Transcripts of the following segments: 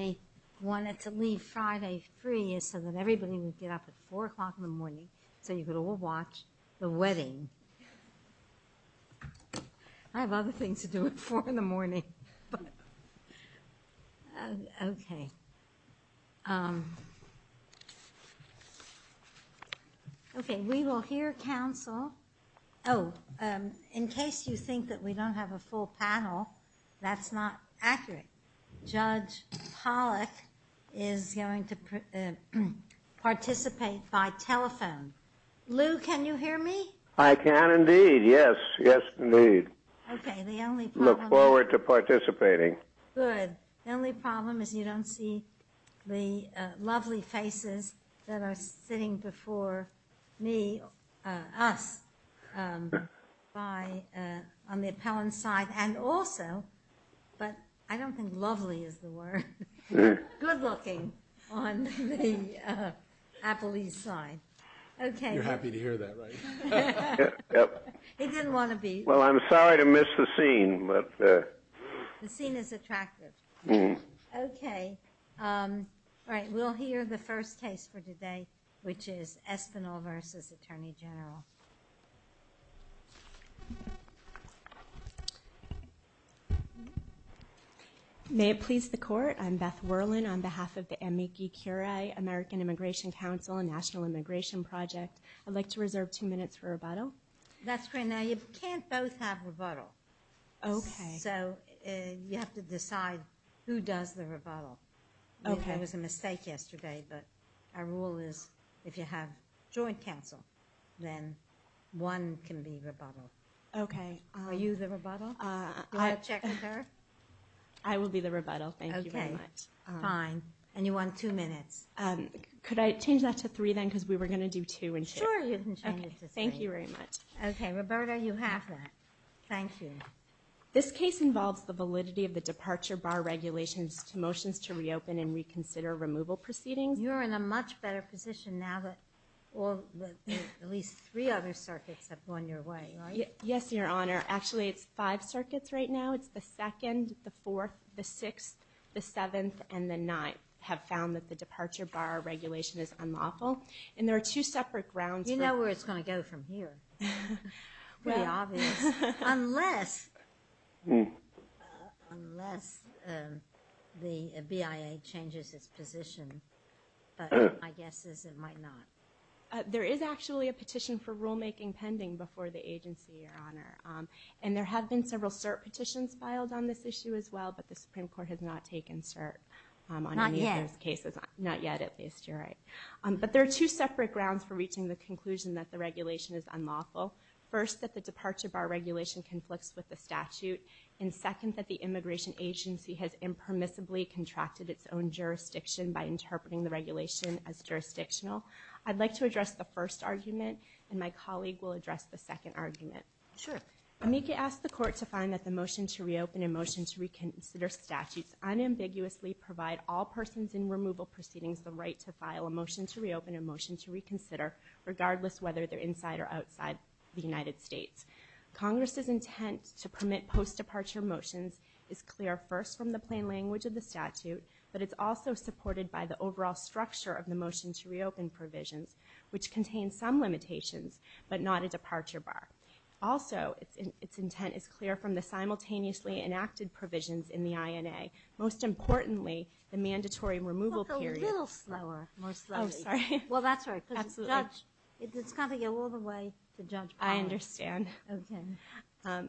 I wanted to leave Friday free is so that everybody would get up at 4 o'clock in the morning so you could all watch the wedding. I have other things to do at 4 in the morning. Okay. Okay we will hear counsel. Oh in case you think that we is going to participate by telephone. Lou can you hear me? I can indeed. Yes yes indeed. Look forward to participating. Good. The only problem is you don't see the lovely faces that are sitting before me us on the appellant side and also but I don't think lovely is the word. Good-looking on the appellee side. Okay. You're happy to hear that right? He didn't want to be. Well I'm sorry to miss the scene but. The scene is attractive. Okay. All right we'll hear the first case for May it please the court. I'm Beth Whirlin on behalf of the Amici Curie American Immigration Council and National Immigration Project. I'd like to reserve two minutes for rebuttal. That's great. Now you can't both have rebuttal. Okay. So you have to decide who does the rebuttal. Okay. There was a mistake yesterday but our rule is if you have joint counsel then one can be rebuttal. Okay. Are you the rebuttal? I will be the rebuttal. Thank you very much. Fine. And you want two minutes. Could I change that to three then because we were going to do two and sure. Thank you very much. Okay Roberta you have that. Thank you. This case involves the validity of the departure bar regulations to motions to reopen and reconsider removal proceedings. You're in a much better position now that well at least three other circuits have gone your way. Yes your honor. Actually it's five circuits right now. It's the second, the fourth, the sixth, the seventh, and the ninth have found that the departure bar regulation is unlawful and there are two separate grounds. You know where it's going to go from here. Unless the BIA changes its position. My guess is it might not. There is actually a petition for rulemaking pending before the agency your honor and there have been several cert petitions filed on this issue as well but the Supreme Court has not taken cert. Not yet. Not yet at least you're right. But there are two separate grounds for reaching the conclusion that the regulation is unlawful. First that the departure bar regulation conflicts with the statute and second that the jurisdiction by interpreting the regulation as jurisdictional. I'd like to address the first argument and my colleague will address the second argument. Sure. Amica asked the court to find that the motion to reopen a motion to reconsider statutes unambiguously provide all persons in removal proceedings the right to file a motion to reopen a motion to reconsider regardless whether they're inside or outside the United States. Congress's intent to permit post-departure motions is clear first from the plain language of the statute but it's also supported by the overall structure of the motion to reopen provisions which contains some limitations but not a departure bar. Also it's in its intent is clear from the simultaneously enacted provisions in the INA. Most importantly the mandatory removal period. A little slower. Oh sorry. Well that's right. Absolutely. It's got to go all the way to judge. I understand. Okay.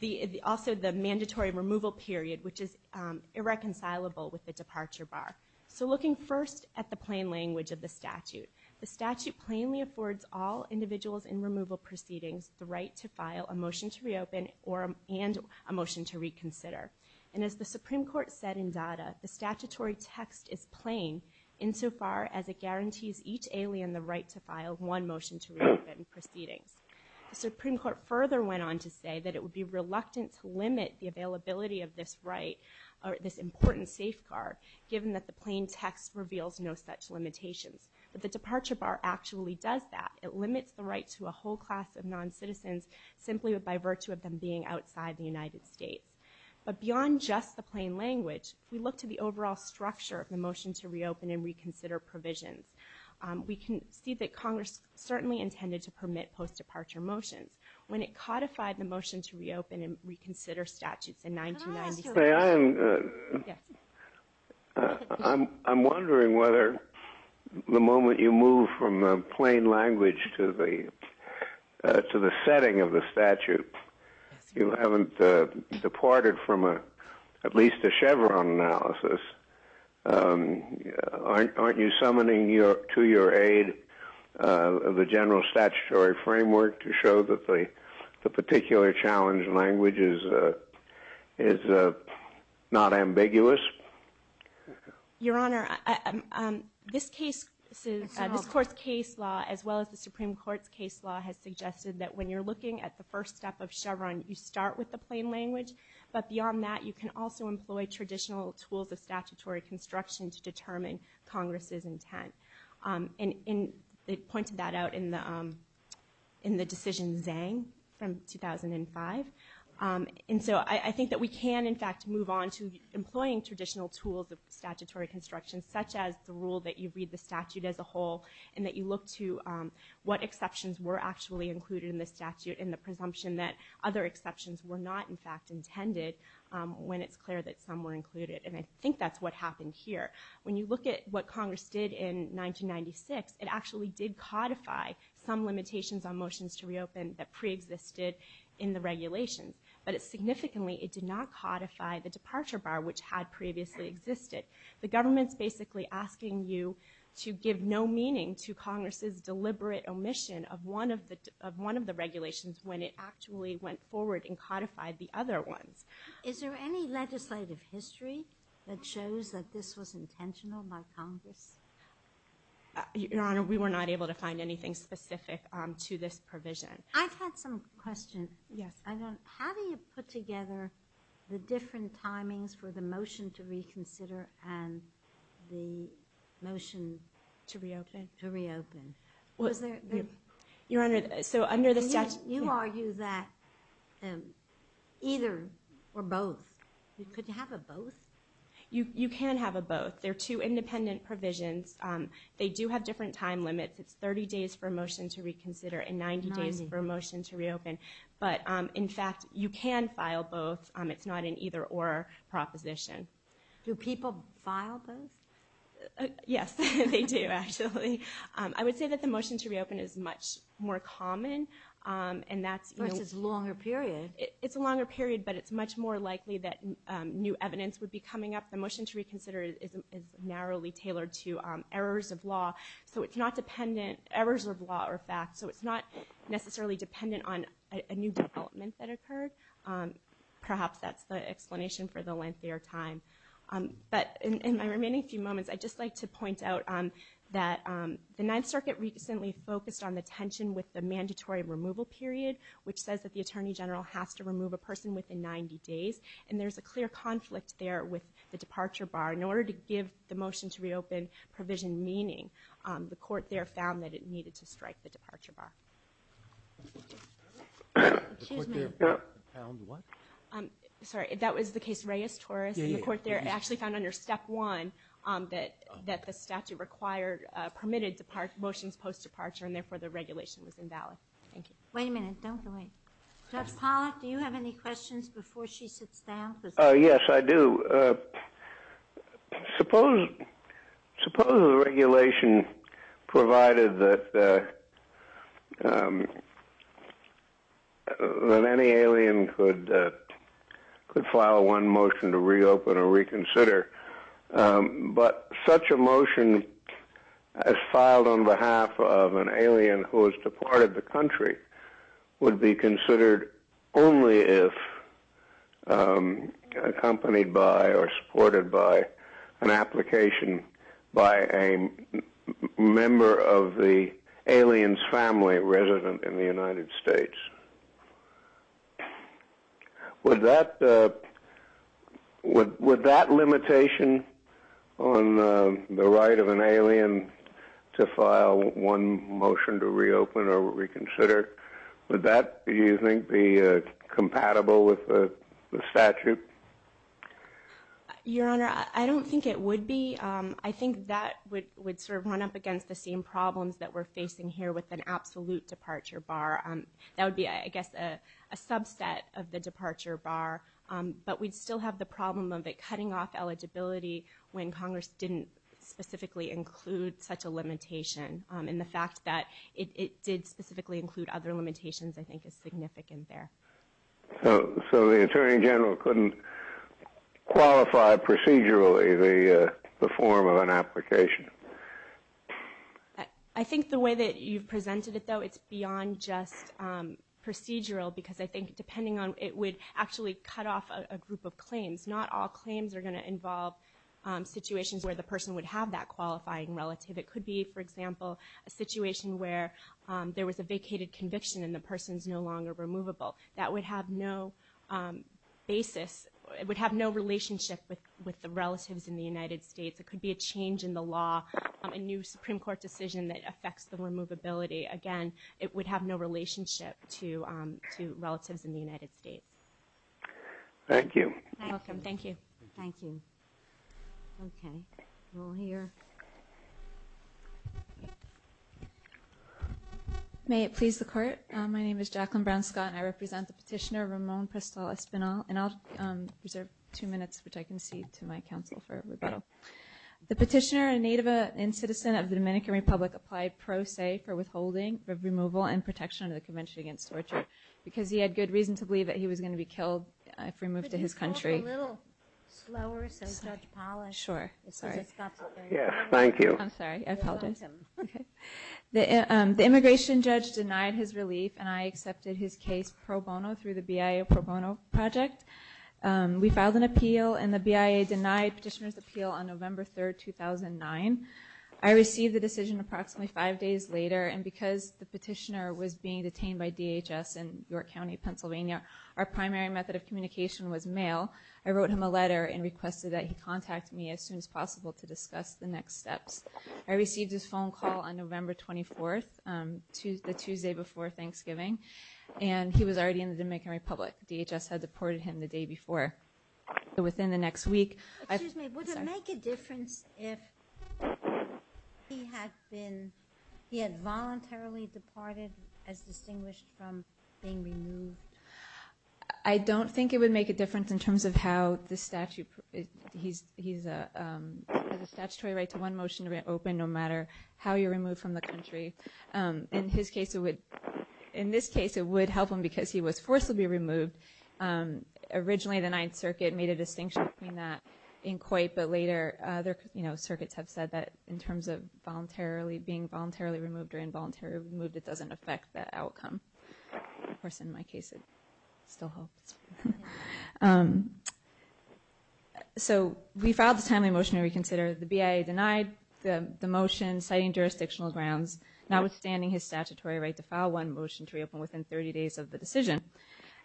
The also the reconcilable with the departure bar. So looking first at the plain language of the statute. The statute plainly affords all individuals in removal proceedings the right to file a motion to reopen or and a motion to reconsider. And as the Supreme Court said in data the statutory text is plain insofar as it guarantees each alien the right to file one motion to reopen proceedings. The Supreme Court further went on to say that it would be reluctant to limit the availability of this right or this important safeguard given that the plain text reveals no such limitations. But the departure bar actually does that. It limits the right to a whole class of non-citizens simply by virtue of them being outside the United States. But beyond just the plain language we look to the overall structure of the motion to reopen and reconsider provisions. We can see that Congress certainly intended to permit post-departure motions. When it codified the motion to reopen and reconsider statutes in 1997. I'm wondering whether the moment you move from the plain language to the to the setting of the statute you haven't departed from a at least a Chevron analysis. Aren't you summoning your to your aid of the general statutory framework to show that the particular challenge language is not ambiguous? Your Honor, this case this is this court's case law as well as the Supreme Court's case law has suggested that when you're looking at the first step of Chevron you start with the plain language but beyond that you can also employ traditional tools of statutory construction to determine Congress's intent. And in they pointed that out in the in the decision Zhang from 2005. And so I think that we can in fact move on to employing traditional tools of statutory construction such as the rule that you read the statute as a whole and that you look to what exceptions were actually included in the statute in the presumption that other exceptions were not in fact intended when it's clear that some were included. And I think that's what happened here. When you look at what Congress did in 1996 it actually did codify some limitations on motions to reopen that pre-existed in the regulations. But it significantly it did not codify the departure bar which had previously existed. The government's basically asking you to give no meaning to Congress's deliberate omission of one of the of one of the regulations when it actually went forward and codified the other ones. Is there any legislative history that shows that this was Your Honor, we were not able to find anything specific to this provision. I've had some questions. Yes. How do you put together the different timings for the motion to reconsider and the motion to reopen? Your Honor, so under the statute. You argue that either or both. Could you have a both? You do have different time limits. It's 30 days for a motion to reconsider and 90 days for a motion to reopen. But in fact you can file both. It's not an either or proposition. Do people file both? Yes, they do actually. I would say that the motion to reopen is much more common. And that's because it's a longer period. It's a longer period but it's much more likely that new evidence would be coming up. The law. So it's not dependent errors of law or fact. So it's not necessarily dependent on a new development that occurred. Perhaps that's the explanation for the lengthier time. But in my remaining few moments I'd just like to point out that the Ninth Circuit recently focused on the tension with the mandatory removal period which says that the Attorney General has to remove a person within 90 days. And there's a clear conflict there with the departure bar. In order to give the motion to reopen provision meaning, the court there found that it needed to strike the departure bar. Sorry. That was the case Reyes-Torres. And the court there actually found under step one that the statute required, permitted, to park motions post departure and therefore the regulation was invalid. Thank you. Wait a minute. Don't go away. Judge Pollack, do you have any questions before she sits down? Yes, I do. Suppose, suppose the regulation provided that that any alien could could file one motion to reopen or reconsider. But such a motion as filed on behalf of an alien who has departed the country would be considered only if accompanied by or supported by an application by a member of the alien's family resident in the United States. Would that, would that limitation on the right of an alien to file one motion to be compatible with the statute? Your Honor, I don't think it would be. I think that would would sort of run up against the same problems that we're facing here with an absolute departure bar. That would be, I guess, a subset of the departure bar. But we'd still have the problem of it cutting off eligibility when Congress didn't specifically include such a limitation. And the fact that it did specifically include other limitations, I think, is significant there. So the Attorney General couldn't qualify procedurally the form of an application? I think the way that you've presented it, though, it's beyond just procedural. Because I think depending on it would actually cut off a group of claims. Not all claims are going to involve situations where the person would have that qualifying relative. It person's no longer removable. That would have no basis, it would have no relationship with the relatives in the United States. It could be a change in the law, a new Supreme Court decision that affects the removability. Again, it would have no relationship to relatives in the United States. Thank you. You're welcome. Thank you. Thank you. Okay, we'll hear. May it please the Court, my name is Jacqueline Brown Scott and I represent the petitioner Ramon Prestal-Espinal. And I'll reserve two minutes which I concede to my counsel for rebuttal. The petitioner, a native and citizen of the Dominican Republic, applied pro se for withholding of removal and protection under the Convention Against Torture because he had good reason to believe that he was Thank you. I'm sorry, I apologize. The immigration judge denied his relief and I accepted his case pro bono through the BIA pro bono project. We filed an appeal and the BIA denied petitioner's appeal on November 3rd, 2009. I received the decision approximately five days later and because the petitioner was being detained by DHS in York County, Pennsylvania, our primary method of communication was mail. I wrote him a letter and requested that he contact me as soon as possible to discuss the next steps. I received his phone call on November 24th, the Tuesday before Thanksgiving, and he was already in the Dominican Republic. DHS had deported him the day before. So within the next week... Excuse me, would it make a difference if he had been, he had voluntarily departed as distinguished from being removed? I don't think it would make a difference in the statutory right to one motion to be open no matter how you're removed from the country. In his case it would, in this case it would help him because he was forcibly removed. Originally the Ninth Circuit made a distinction between that in Coit, but later other, you know, circuits have said that in terms of voluntarily, being voluntarily removed or involuntarily removed, it doesn't affect that motion to reconsider. The BIA denied the motion citing jurisdictional grounds notwithstanding his statutory right to file one motion to reopen within 30 days of the decision.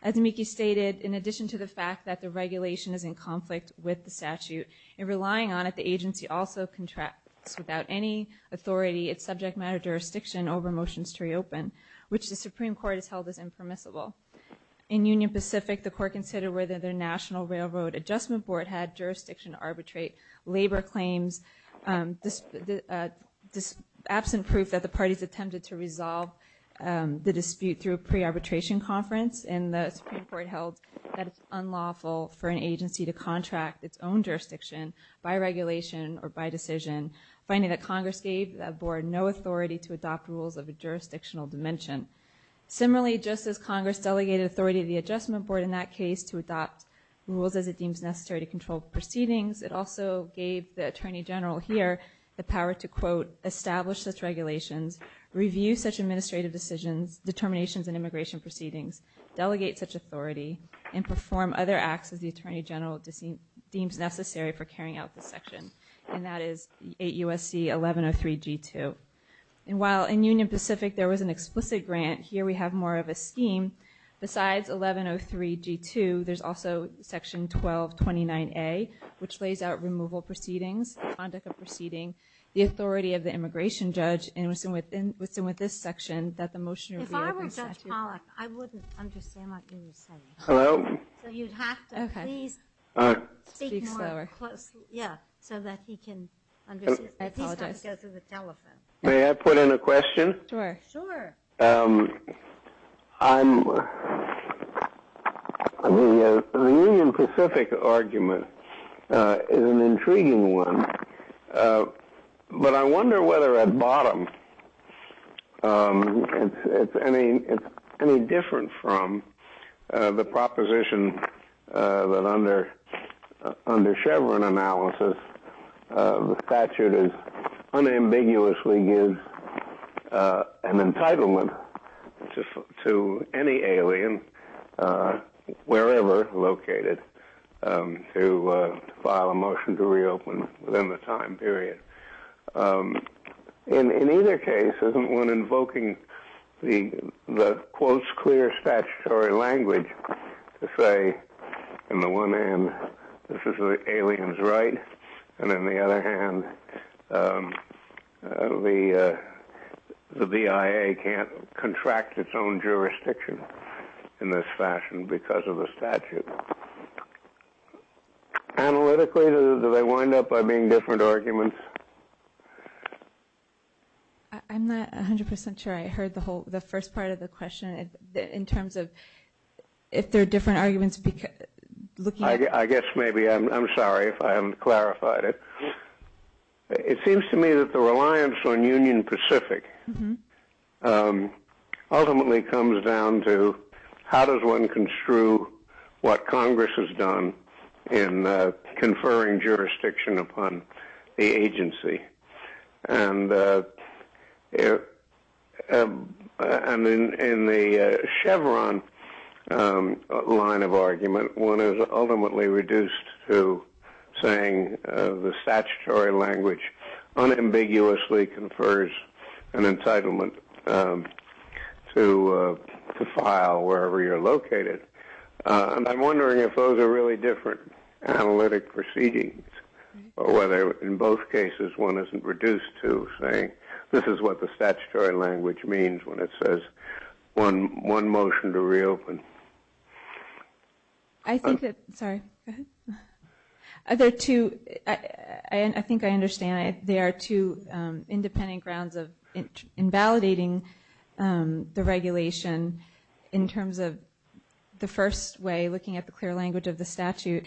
As Miki stated, in addition to the fact that the regulation is in conflict with the statute, in relying on it, the agency also contracts without any authority, its subject matter jurisdiction, over motions to reopen, which the Supreme Court has held as impermissible. In Union Pacific, the court considered whether their National Railroad Adjustment Board had jurisdiction to arbitrate labor claims, absent proof that the parties attempted to resolve the dispute through a pre-arbitration conference, and the Supreme Court held that it's unlawful for an agency to contract its own jurisdiction by regulation or by decision, finding that Congress gave that board no authority to adopt rules of a jurisdictional dimension. Similarly, just as Congress delegated authority to the Adjustment Board in that case to adopt rules as it deems necessary to control proceedings, it also gave the Attorney General here the power to, quote, establish such regulations, review such administrative decisions, determinations, and immigration proceedings, delegate such authority, and perform other acts as the Attorney General deems necessary for carrying out this section, and that is 8 U.S.C. 1103 G2. And while in Union Pacific there was an explicit grant, here we have more of a scheme. Besides 1103 G2, there's also Section 1229A, which lays out removal proceedings, the conduct of proceeding, the authority of the immigration judge, and it was in with this section that the motion was reviewed and sent to you. If I were Judge Pollack, I wouldn't understand what you were saying. Hello? So you'd have to please speak more closely, yeah, so that he can understand. I apologize. He's got to go through the telephone. May I put in a question? Sure. The Union Pacific argument is an intriguing one, but I wonder whether at bottom it's any different from the proposition that under Chevron analysis the statute is unambiguously gives an entitlement to any alien, wherever located, to file a motion to reopen within the time period. In either case, isn't one invoking the, quote, clear statutory language to say in the one hand, this is the alien's right, and in the other hand, the BIA can't contract its own jurisdiction in this fashion because of the statute. Analytically, do they wind up by being different arguments? I'm not 100% sure I heard the first part of the question in terms of if they're different arguments. I guess maybe. I'm sorry if I haven't clarified it. It seems to me that the reliance on Union Pacific ultimately comes down to how does one construe what Congress has done in conferring jurisdiction upon the agency. And in the Chevron line of argument, one is ultimately reduced to saying the statutory language unambiguously confers an entitlement to file wherever you're located. I'm wondering if those are really different analytic proceedings or whether in both cases one isn't reduced to saying this is what the statutory language means when it says one motion to reopen. I think that, sorry, go ahead. There are two, I think I understand, there are two independent grounds of invalidating the regulation in terms of the first way, looking at the clear language of the statute,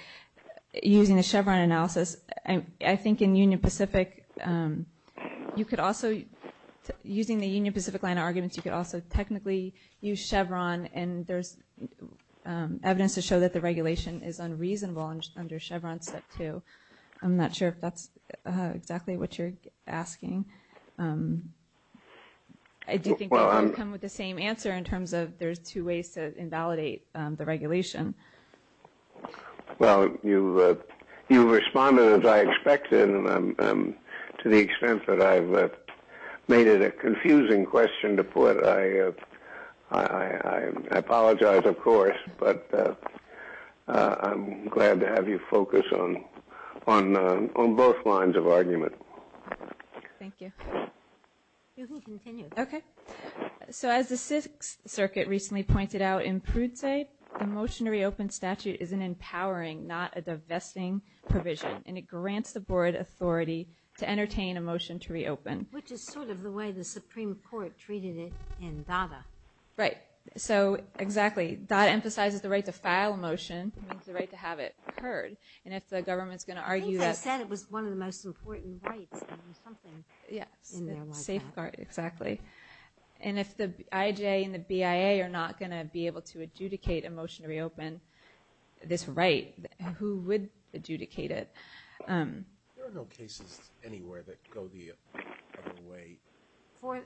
using the Chevron analysis. I think in Union Pacific, you could also, using the Union Pacific line of arguments, you could also technically use Chevron and there's evidence to show that the regulation is unreasonable under Chevron step two. I'm not sure if that's exactly what you're asking. I do think that would come with the same answer in terms of there's two ways to invalidate the regulation. Well, you responded as I expected to the extent that I've made it a confusing question to put. I apologize, of course, but I'm glad to have you focus on both lines of argument. Thank you. You can continue. Okay. So as the Sixth Circuit recently pointed out in Prudze, a motion to reopen statute is an empowering, not a divesting provision, and it grants the board authority to entertain a motion to reopen. Which is sort of the way the Supreme Court treated it in Dada. Right. So exactly. Dada emphasizes the right to file a motion, the right to have it heard, and if the government's going to argue that... I think they said it was one of the most important rights. Yes. Safeguard. Exactly. And if the IJ and the BIA are not going to be able to adjudicate a motion to reopen this right, who would adjudicate it? There are no cases anywhere that go the other way.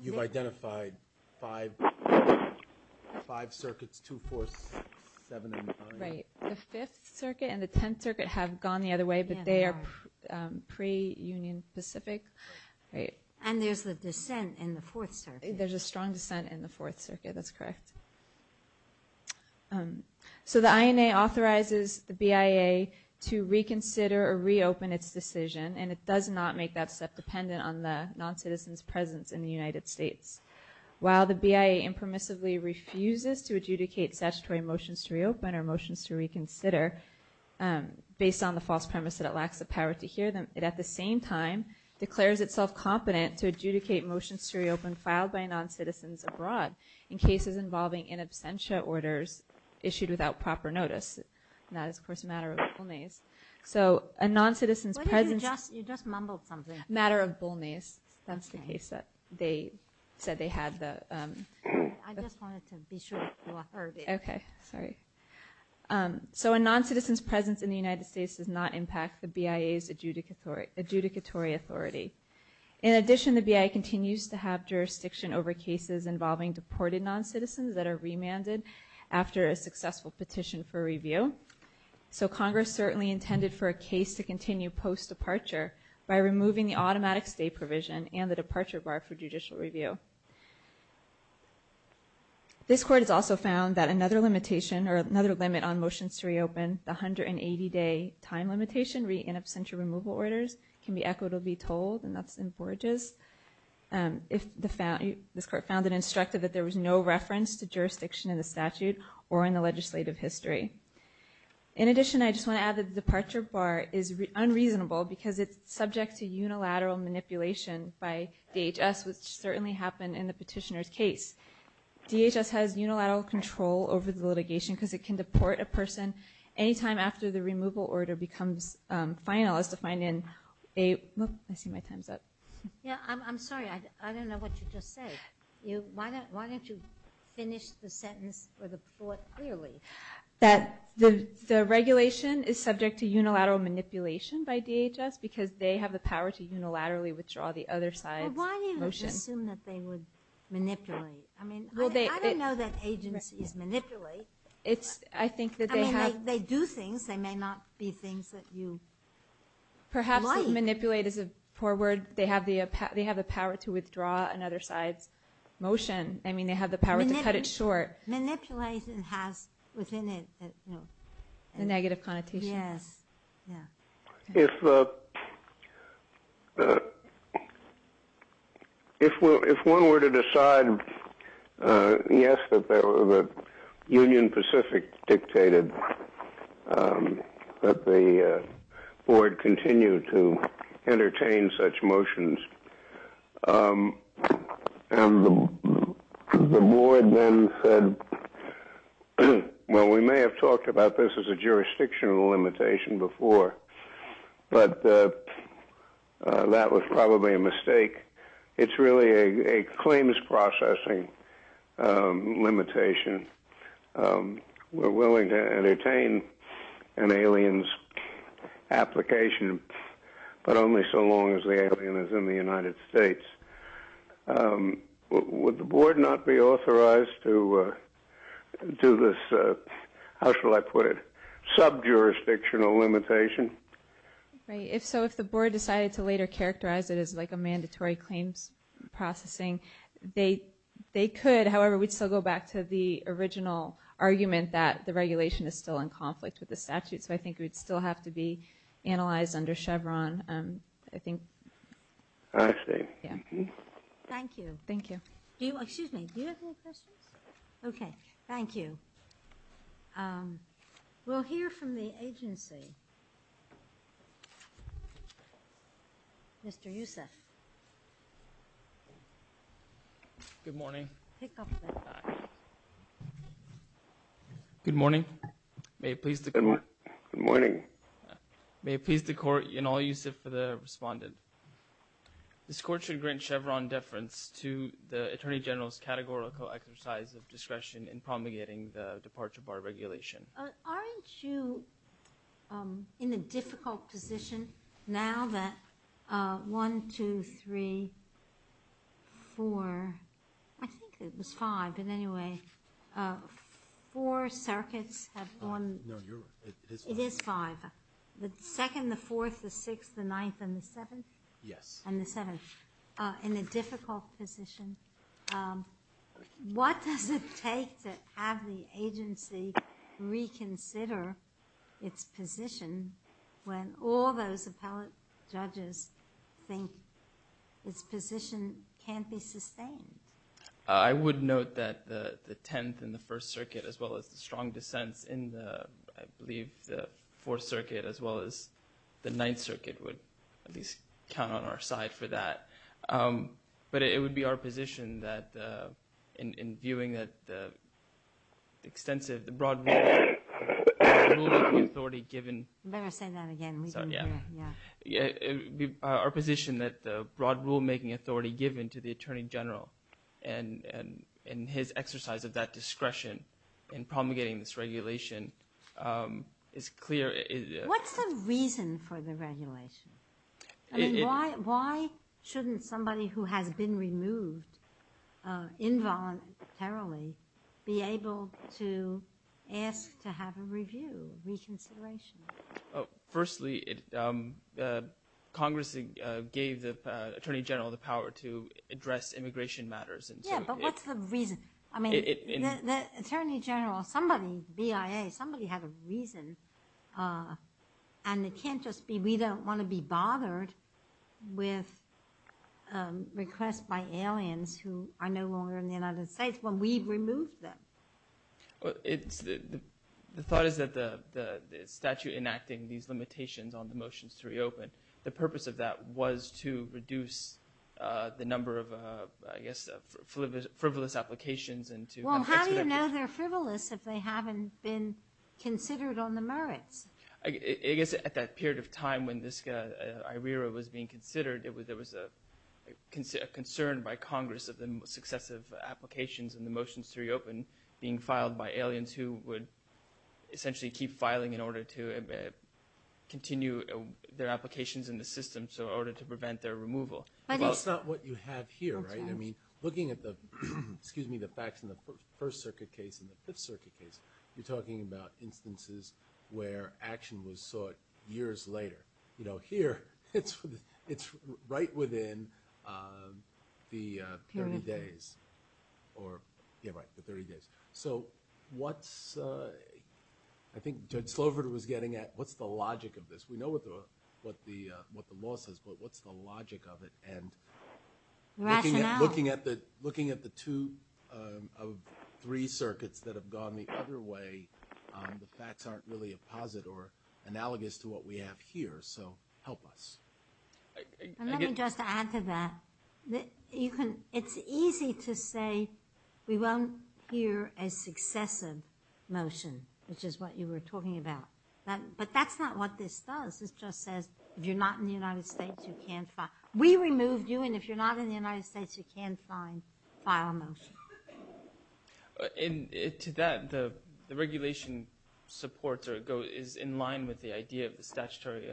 You've identified five circuits, two, four, six, seven, and nine. Right. The Fifth Circuit and the Tenth Circuit have gone the other way, but they are pre-Union Pacific. And there's a dissent in the Fourth Circuit. There's a strong dissent in the Fourth Circuit. That's correct. So the INA authorizes the BIA to reconsider or reopen its decision, and it does not make that step dependent on the non-citizen's presence in the United States. While the BIA impermissibly refuses to adjudicate statutory motions to reopen or motions to reconsider based on the false premise that it lacks the power to hear them, it at the same time declares itself competent to adjudicate motions to reopen filed by non-citizens abroad in cases involving in absentia orders issued without proper notice. And that is, of course, a matter of bull-nays. So a non-citizen's presence... You just mumbled something. Matter of bull-nays. That's the case that they said they had the... I just wanted to be sure. Okay, sorry. So a non-citizen's presence in the United States does not impact the BIA's adjudicatory authority. In addition, the BIA continues to have jurisdiction over cases involving deported non-citizens that are remanded after a successful petition for review. So Congress certainly intended for a case to continue post-departure by removing the automatic stay provision and the departure bar for judicial review. This Court has also found that another limitation or another limit on motions to reopen, the 180-day time limitation in absentia removal orders, can be equitably told, and that's in Borges. This Court found it instructive that there was no reference to jurisdiction in the statute or in the legislative history. In addition, I just want to add that the departure bar is unreasonable because it's subject to unilateral manipulation by DHS, which certainly happened in the petitioner's case. DHS has unilateral control over the litigation because it can deport a person any time after the removal order becomes final as defined in a... I see my time's up. Yeah, I'm sorry. I don't know what you just said. Why don't you finish the sentence or the thought clearly? That the regulation is subject to unilateral manipulation by DHS because they have the power to unilaterally withdraw the other side's motion. Well, why do you assume that they would manipulate? I mean, I don't know that agencies manipulate. I mean, they do things. They may not be things that you might. Perhaps manipulate is a poor word. They have the power to withdraw another side's motion. I mean, they have the power to cut it short. Manipulation has within it... A negative connotation. Yes. If one were to decide, yes, that the Union Pacific dictated that the board continue to entertain such motions, and the board then said, well, we may have talked about this as a jurisdictional limitation before, but that was probably a mistake. It's really a claims processing limitation. We're willing to but only so long as the alien is in the United States. Would the board not be authorized to do this, how shall I put it, sub-jurisdictional limitation? If so, if the board decided to later characterize it as like a mandatory claims processing, they could. However, we'd still go back to the original argument that the regulation is still in conflict with the statute. So I think it would still have to be analyzed under Chevron, I think. I see. Yeah. Thank you. Thank you. Excuse me, do you have any questions? Okay, thank you. We'll hear from the agency. Mr. Yousef. Good morning. Pick up that back. Good morning. May it please the... Good morning. May it please the court and all Yousef for the respondent. This court should grant Chevron deference to the Attorney General's categorical exercise of discretion in promulgating the departure bar regulation. Aren't you in a difficult position now that one, two, three, four, I think it was five, but anyway, four circuits have won. No, you're right. It is five. It is five. The second, the fourth, the sixth, the ninth, and the seventh? Yes. And the seventh. In a difficult position, what does it take to have the agency reconsider its position when all those appellate judges think its position can't be sustained? I would note that the tenth and the first circuit as well as the strong dissents in the, I believe, the fourth circuit as well as the ninth circuit would at least count on our side for that. But it would be our position that in viewing that the extensive, the broad rulemaking authority given... Better say that again. Yeah. Our position that the broad rulemaking authority given to the Attorney General and his exercise of that discretion in promulgating this regulation is clear. What's the reason for the regulation? I mean, why shouldn't somebody who has been removed involuntarily be able to ask to have a review, reconsideration? Firstly, Congress gave the Attorney General the power to address immigration matters. Yeah, but what's the reason? I mean, the Attorney General, somebody, BIA, somebody had a reason. And it can't just be we don't want to be bothered with requests by aliens who are no longer in the United States when we've removed them. The thought is that the statute enacting these limitations on the motions to reopen, the purpose of that was to reduce the number of, I guess, frivolous applications and to... Well, how do you know they're frivolous if they haven't been considered on the merits? I guess at that period of time when this IRERA was being considered, there was a concern by Congress of the successive applications and the would essentially keep filing in order to continue their applications in the system, so in order to prevent their removal. But that's not what you have here, right? I mean, looking at the facts in the First Circuit case and the Fifth Circuit case, you're talking about instances where action was sought years later. Here, it's right within the 30 days. Period of time. Yeah, right, the 30 days. So what's... I think Judge Slover was getting at, what's the logic of this? We know what the law says, but what's the logic of it? And looking at the two of three circuits that have gone the other way, the facts aren't really a positive or analogous to what we have here, so help us. Let me just add to that. It's easy to say we won't hear a successive motion, which is what you were talking about. But that's not what this does. This just says, if you're not in the United States, you can't file. We removed you, and if you're not in the United States, you can't file a motion. To that, the regulation supports or is in line with the idea of the statutory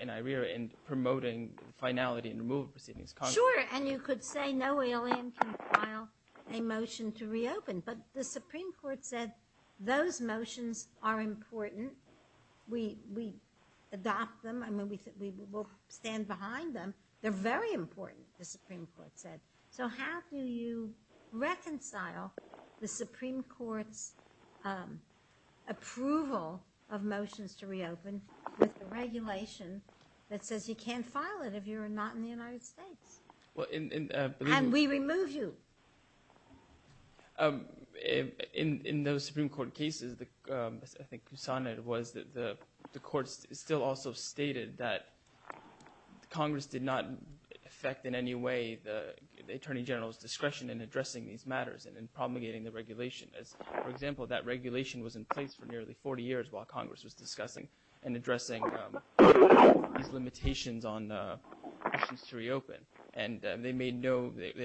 in IRERA in promoting finality in removal proceedings. Sure, and you could say no alien can file a motion to reopen, but the Supreme Court said those motions are important. We adopt them. I mean, we will stand behind them. They're very important, the Supreme Court said. So how do you reconcile the Supreme Court's approval of motions to reopen with the regulation that says you can't file it if you're not in the United States, and we remove you? In those Supreme Court cases, I think, Kusana, it was the courts still also stated that Congress did not affect in any way the Attorney General's discretion in addressing these matters and in promulgating the regulation. For example, that regulation was in place for nearly 40 years while motions to reopen, and they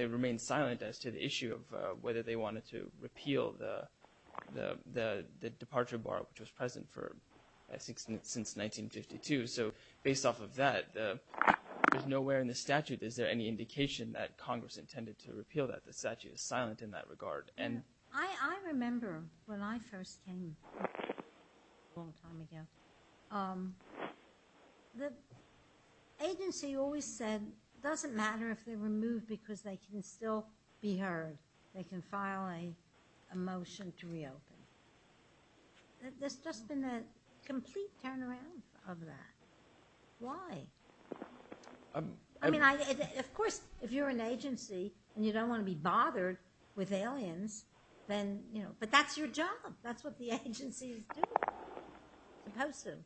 remained silent as to the issue of whether they wanted to repeal the departure bar, which was present since 1952. So based off of that, there's nowhere in the statute, is there any indication that Congress intended to repeal that? The statute is silent in that regard. I remember when I first came a long time ago, the agency always said it doesn't matter if they're removed because they can still be heard. They can file a motion to reopen. There's just been a complete turnaround of that. Why? I mean, of course, if you're an agency and you don't want to be bothered with aliens, then, you know, but that's your job. That's what the agency is supposed to do.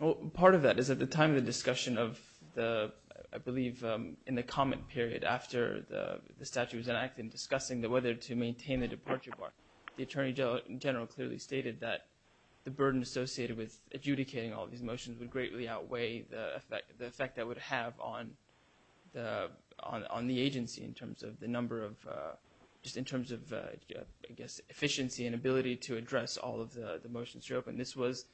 Well, part of that is at the time of the discussion of the, I believe, in the comment period after the statute was enacted and discussing whether to maintain the departure bar, the Attorney General clearly stated that the burden associated with adjudicating all these motions would greatly outweigh the effect that would have on the agency in terms of the number of, just in terms of, I guess, efficiency and ability to address all of the motions to reopen. This was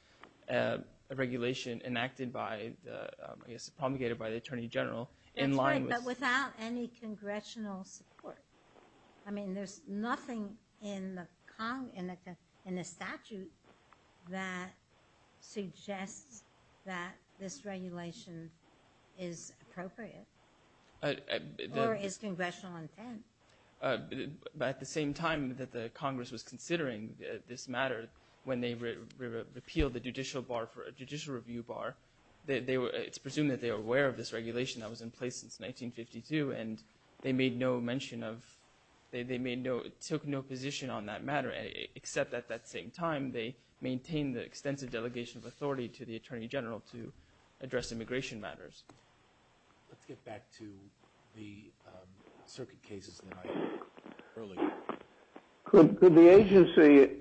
a regulation enacted by the, I guess, promulgated by the Attorney General. That's right, but without any congressional support. I mean, there's nothing in the statute that suggests that this regulation is appropriate or is congressional intent. At the same time that the Congress was considering this matter, when they repealed the judicial review bar, it's presumed that they were aware of this regulation that was in place since 1952, and they made no mention of, they took no position on that matter, except at that same time, they maintained the extensive delegation of authority to the Attorney General to address immigration matters. Let's get back to the circuit cases that I heard earlier. Could the agency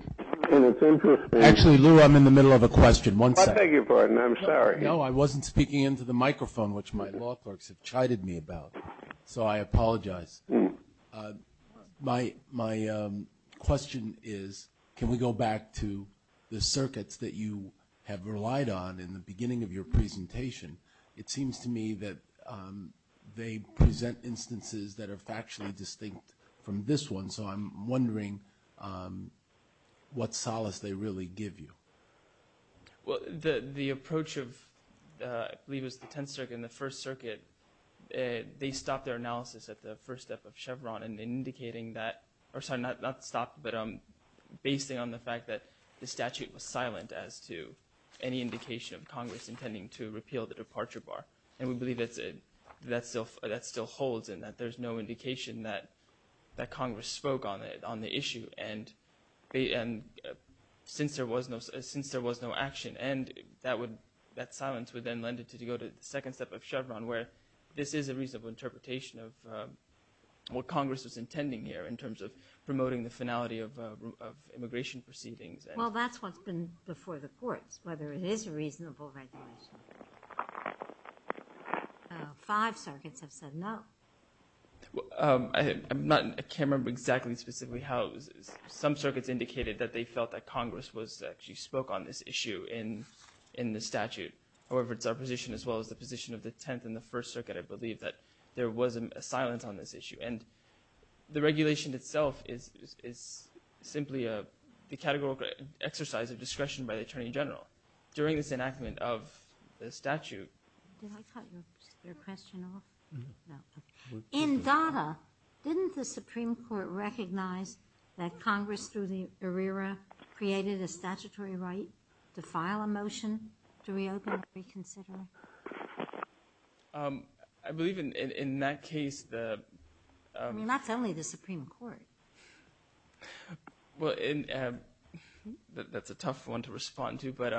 in its interest be Actually, Lou, I'm in the middle of a question. One second. I beg your pardon. I'm sorry. No, I wasn't speaking into the microphone, which my law clerks have chided me about, so I apologize. My question is, can we go back to the circuits that you have relied on in the beginning of your presentation? It seems to me that they present instances that are factually distinct from this one, so I'm wondering what solace they really give you. Well, the approach of, I believe it was the Tenth Circuit and the First Circuit, they stopped their analysis at the first step of Chevron in indicating that, or sorry, not stopped, but basing on the fact that the statute was silent as to any indication of Congress intending to repeal the departure bar. And we believe that that still holds and that there's no indication that Congress spoke on the issue. And since there was no action, that silence would then lend it to go to the second step of Chevron, where this is a reasonable interpretation of what Congress was intending here in terms of promoting the finality of immigration proceedings. Well, that's what's been before the courts, whether it is a reasonable regulation. Five circuits have said no. I can't remember exactly specifically how it was. Some circuits indicated that they felt that Congress actually spoke on this issue in the statute. However, it's our position as well as the position of the Tenth and the First Circuit, I believe, that there was a silence on this issue. And the regulation itself is simply the categorical exercise of discretion by the attorney general. During this enactment of the statute. Did I cut your question off? No. In Dada, didn't the Supreme Court recognize that Congress through the arrear created a statutory right to file a motion to reopen reconsider? I believe in that case. I mean, that's only the Supreme Court. Well, that's a tough one to respond to. But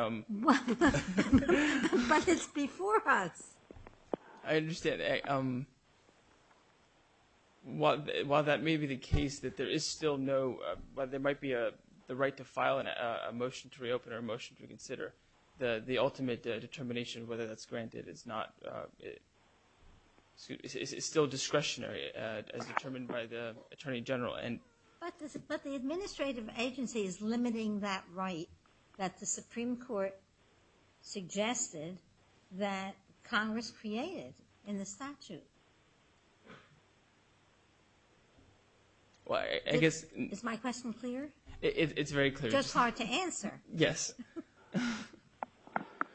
it's before us. I understand. While that may be the case that there is still no, there might be the right to file a motion to reopen or a motion to reconsider, the ultimate determination of whether that's granted is not, it's still discretionary as determined by the attorney general. But the administrative agency is limiting that right that the Supreme Court suggested that Congress created in the statute. Is my question clear? It's very clear. Just hard to answer. Yes.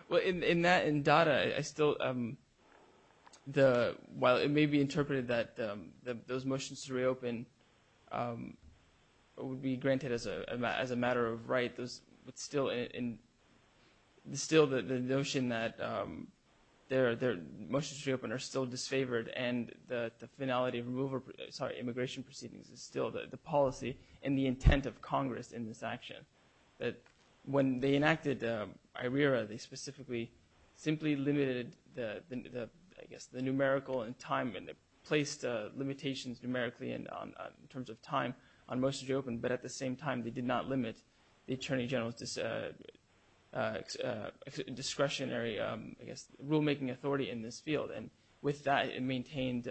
Well, in that, in Dada, I still, while it may be interpreted that those motions to reopen would be granted as a matter of right, it's still the notion that their motions to reopen are still disfavored and the finality of immigration proceedings is still the policy and the intent of Congress in this action. But when they enacted IRERA, they specifically simply limited the, I guess, the numerical and time and placed limitations numerically in terms of time on motions to reopen. But at the same time, they did not limit the attorney general's discretionary, I guess, rulemaking authority in this field. And with that, it maintained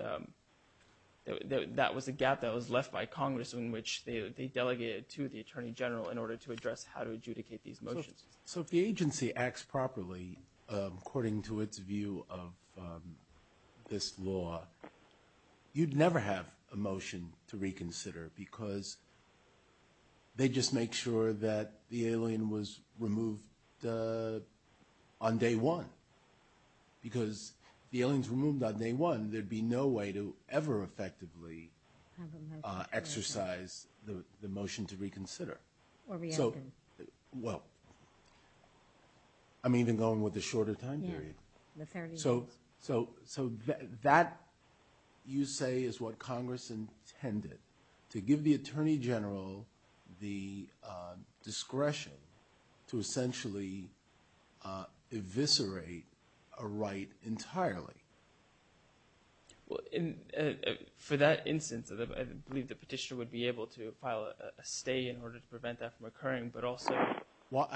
that that was a gap that was left by Congress in which they delegated to the attorney general in order to address how to adjudicate these motions. So if the agency acts properly, according to its view of this law, you'd never have a motion to reconsider because they just make sure that the alien was removed on day one. Because if the alien was removed on day one, there'd be no way to ever effectively exercise the motion to reconsider. Well, I'm even going with the shorter time period. So that, you say, is what Congress intended to give the attorney general the discretion to essentially eviscerate a right entirely. Well, for that instance, I believe the petitioner would be able to file a stay in order to prevent that from occurring, but also. Well,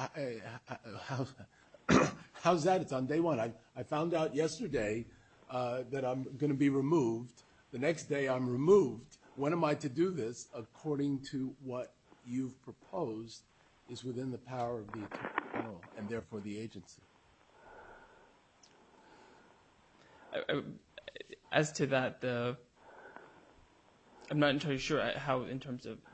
how's that? It's on day one. I found out yesterday that I'm going to be removed. The next day I'm removed. When am I to do this? According to what you've proposed is within the power of the attorney general and therefore the agency. As to that, I'm not entirely sure how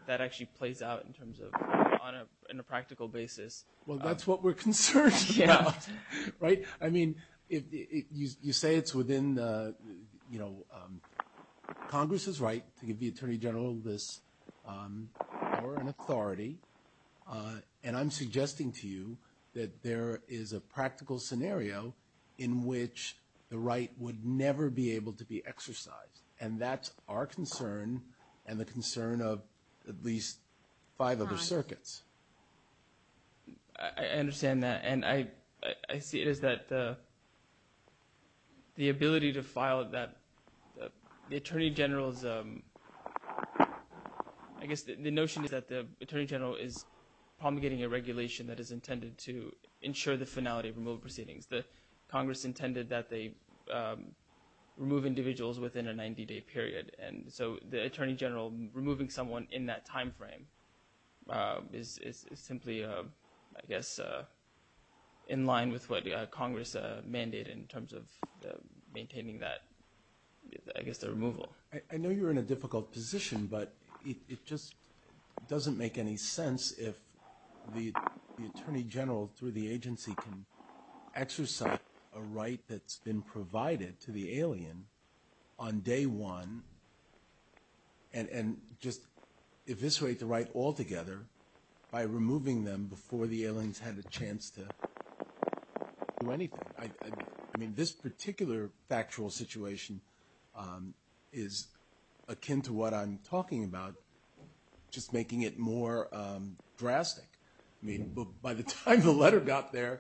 that actually plays out in terms of on a practical basis. Well, that's what we're concerned about. Right. I mean, you say it's within Congress's right to give the attorney general this power and authority. And I'm suggesting to you that there is a practical scenario in which the right would never be able to be exercised. And that's our concern and the concern of at least five other circuits. I understand that. And I see it as that the ability to file that the attorney general is. I guess the notion is that the attorney general is promulgating a regulation that is intended to ensure the finality of removed proceedings. The Congress intended that they remove individuals within a 90 day period. And so the attorney general removing someone in that time frame is simply, I guess, in line with what Congress mandated in terms of maintaining that, I guess, the removal. I know you're in a difficult position, but it just doesn't make any sense if the attorney general through the agency can exercise a right that's been provided to the alien on day one. And just eviscerate the right altogether by removing them before the aliens had a chance to do anything. I mean, this particular factual situation is akin to what I'm talking about, just making it more drastic. I mean, by the time the letter got there,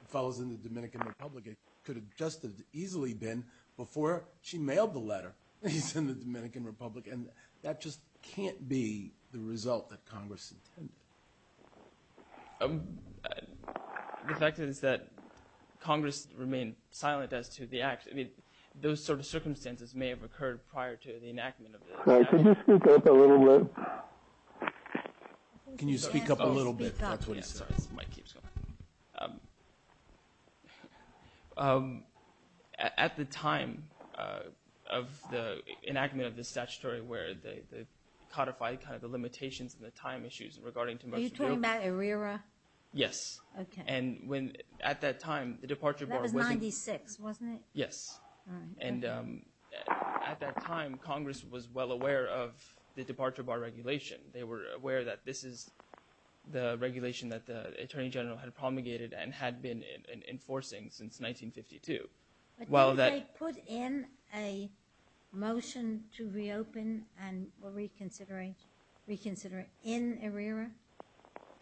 it follows in the Dominican Republic. It could have just as easily been before she mailed the letter. He's in the Dominican Republic. And that just can't be the result that Congress intended. The fact is that Congress remained silent as to the act. I mean, those sort of circumstances may have occurred prior to the enactment. Can you speak up a little bit? Can you speak up a little bit? At the time of the enactment of the statutory where they codified kind of the limitations and the time issues regarding Timbuktu. Are you talking about ERIRA? Yes. Okay. And at that time, the departure bar wasn't— That was 96, wasn't it? Yes. All right. Okay. And at that time, Congress was well aware of the departure bar regulation. They were aware that this is the regulation that the Attorney General had promulgated and had been enforcing since 1952. But did they put in a motion to reopen and reconsider in ERIRA?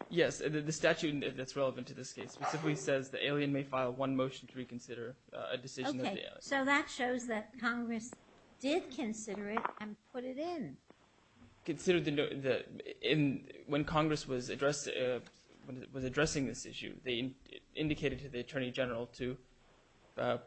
Yes. The statute that's relevant to this case specifically says the alien may file one motion to reconsider a decision of the alien. Okay. So that shows that Congress did consider it and put it in. Considered the—when Congress was addressing this issue, they indicated to the Attorney General to, I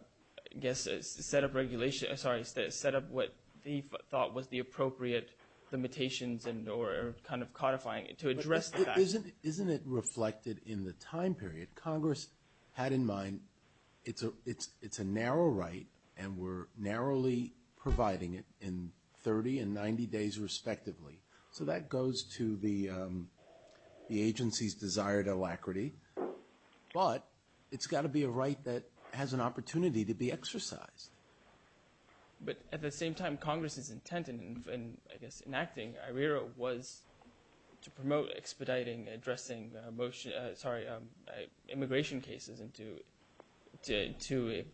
guess, set up regulation— sorry, set up what they thought was the appropriate limitations or kind of codifying it to address that. Isn't it reflected in the time period? Congress had in mind it's a narrow right and we're narrowly providing it in 30 and 90 days respectively. So that goes to the agency's desired alacrity. But it's got to be a right that has an opportunity to be exercised. But at the same time, Congress's intent in, I guess, enacting ERIRA was to promote expediting addressing immigration cases and to,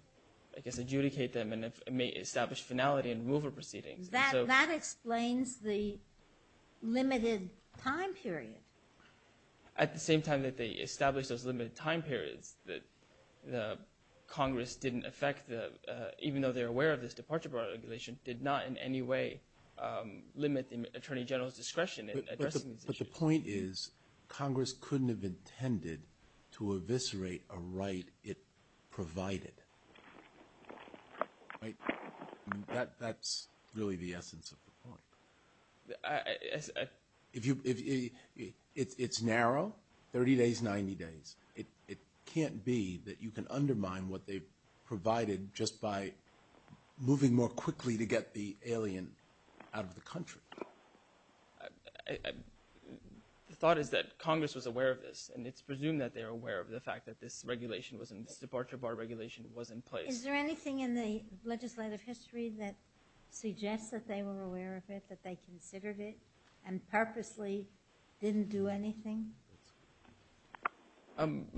I guess, adjudicate them and establish finality and removal proceedings. That explains the limited time period. At the same time that they established those limited time periods, Congress didn't affect the— even though they're aware of this departure regulation, did not in any way limit the Attorney General's discretion in addressing these issues. But the point is Congress couldn't have intended to eviscerate a right it provided. That's really the essence of the point. If you—it's narrow, 30 days, 90 days. It can't be that you can undermine what they've provided just by moving more quickly to get the alien out of the country. The thought is that Congress was aware of this and it's presumed that they're aware of the fact that this regulation was in— this departure bar regulation was in place. Is there anything in the legislative history that suggests that they were aware of it, that they considered it and purposely didn't do anything? I'm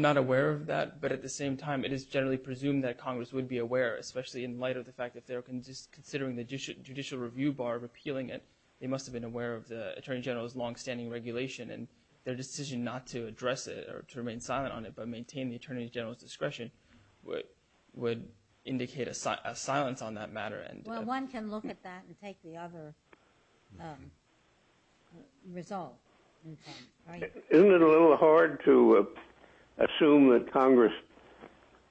not aware of that, but at the same time it is generally presumed that Congress would be aware, especially in light of the fact that if they were considering the judicial review bar of appealing it, they must have been aware of the Attorney General's longstanding regulation and their decision not to address it or to remain silent on it but maintain the Attorney General's discretion would indicate a silence on that matter. Well, one can look at that and take the other result. Isn't it a little hard to assume that Congress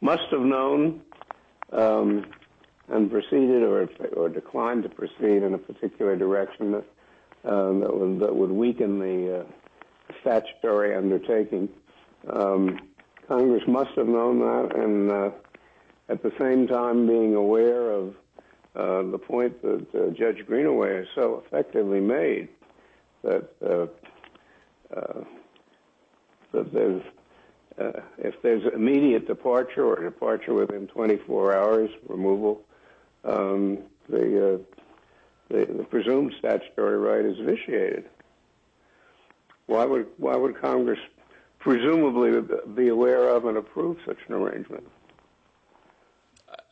must have known and proceeded or declined to proceed in a particular direction that would weaken the statutory undertaking? Congress must have known that and at the same time being aware of the point that Judge Greenaway so effectively made that if there's immediate departure or departure within 24 hours, removal, the presumed statutory right is vitiated. Why would Congress presumably be aware of and approve such an arrangement?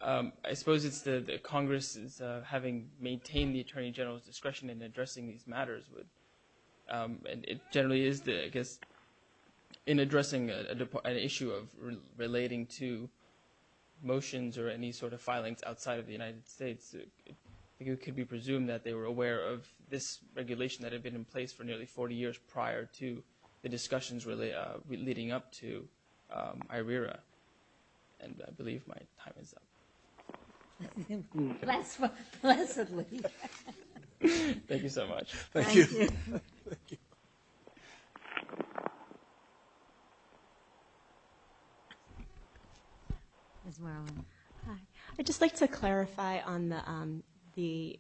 I suppose it's that Congress, having maintained the Attorney General's discretion in addressing these matters, and it generally is, I guess, in addressing an issue of relating to motions or any sort of filings outside of the United States, it could be presumed that they were aware of this regulation that had been in place for nearly 40 years prior to the discussions leading up to IRERA. And I believe my time is up. Blessedly. Thank you so much. Thank you. Ms. Merlin. Hi. I'd just like to clarify on the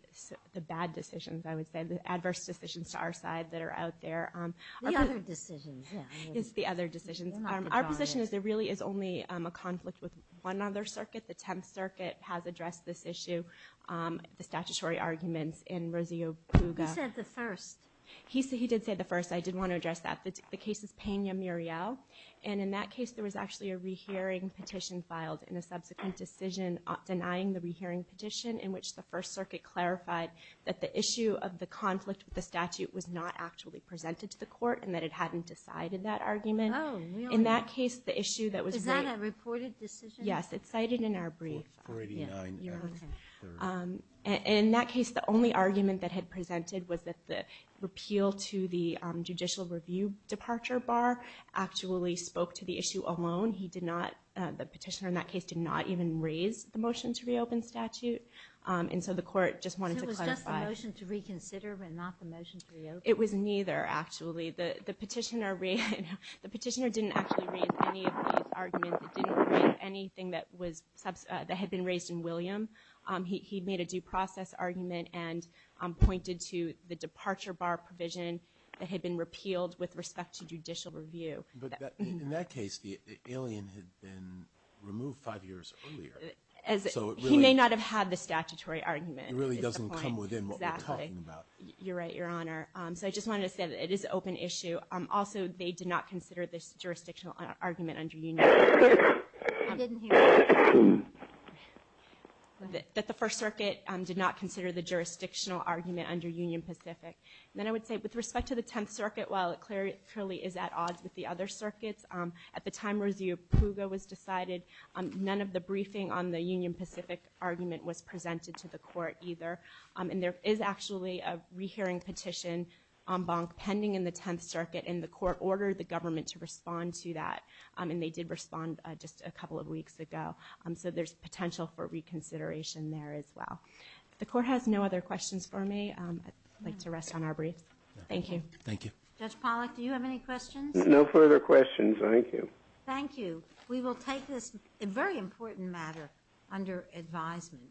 bad decisions, I would say, the adverse decisions to our side that are out there. The other decisions, yeah. It's the other decisions. Our position is there really is only a conflict with one other circuit. The Tenth Circuit has addressed this issue, the statutory arguments in Rosio Puga. You said the first. He did say the first. I did want to address that. The case is Pena-Muriel. And in that case, there was actually a rehearing petition filed and a subsequent decision denying the rehearing petition in which the First Circuit clarified that the issue of the conflict with the statute was not actually presented to the court and that it hadn't decided that argument. Oh, really? In that case, the issue that was raised – Is that a reported decision? Yes. It's cited in our brief. In that case, the only argument that had presented was that the repeal to the judicial review departure bar actually spoke to the issue alone. The petitioner in that case did not even raise the motion to reopen statute, and so the court just wanted to clarify. So it was just the motion to reconsider and not the motion to reopen? It was neither, actually. The petitioner didn't actually raise any of these arguments. It didn't raise anything that had been raised in William. He made a due process argument and pointed to the departure bar provision that had been repealed with respect to judicial review. But in that case, the alien had been removed five years earlier. He may not have had the statutory argument. It really doesn't come within what we're talking about. Exactly. You're right, Your Honor. So I just wanted to say that it is an open issue. Also, they did not consider this jurisdictional argument under Union Pacific. I didn't hear. That the First Circuit did not consider the jurisdictional argument under Union Pacific. Then I would say, with respect to the Tenth Circuit, while it clearly is at odds with the other circuits, at the time review of PUGA was decided, none of the briefing on the Union Pacific argument was presented to the court either. And there is actually a rehearing petition pending in the Tenth Circuit, and the court ordered the government to respond to that. And they did respond just a couple of weeks ago. So there's potential for reconsideration there as well. If the court has no other questions for me, I'd like to rest on our briefs. Thank you. Thank you. Judge Pollack, do you have any questions? No further questions. Thank you. Thank you. We will take this very important matter under advisement.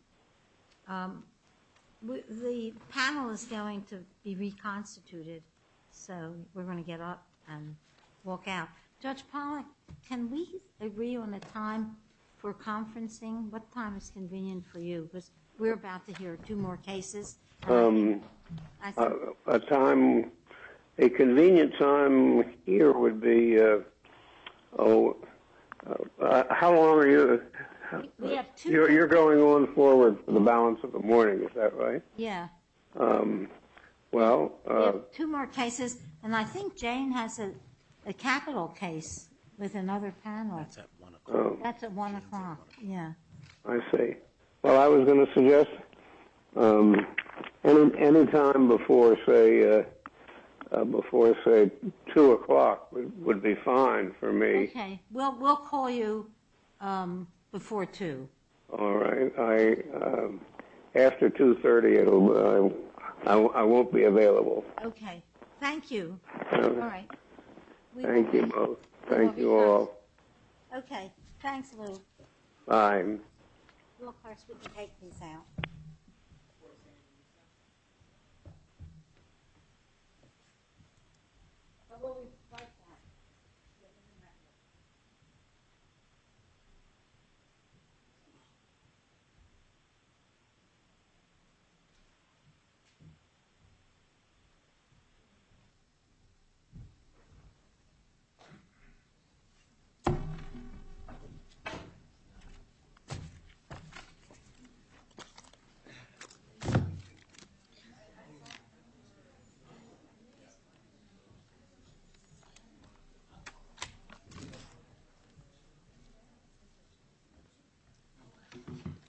The panel is going to be reconstituted, so we're going to get up and walk out. Judge Pollack, can we agree on a time for conferencing? What time is convenient for you? We're about to hear two more cases. A time, a convenient time here would be, oh, how long are you, you're going on forward for the balance of the morning, is that right? Yeah. Well. Two more cases, and I think Jane has a capital case with another panel. That's at 1 o'clock. That's at 1 o'clock, yeah. I see. Well, I was going to suggest any time before, say, 2 o'clock would be fine for me. Okay. Well, we'll call you before 2. All right. After 2.30, I won't be available. Okay. Thank you. All right. Thank you both. Thank you all. Okay. Thanks, Lou. Bye. Thank you. Well, of course, we can take these out. Of course. Thank you.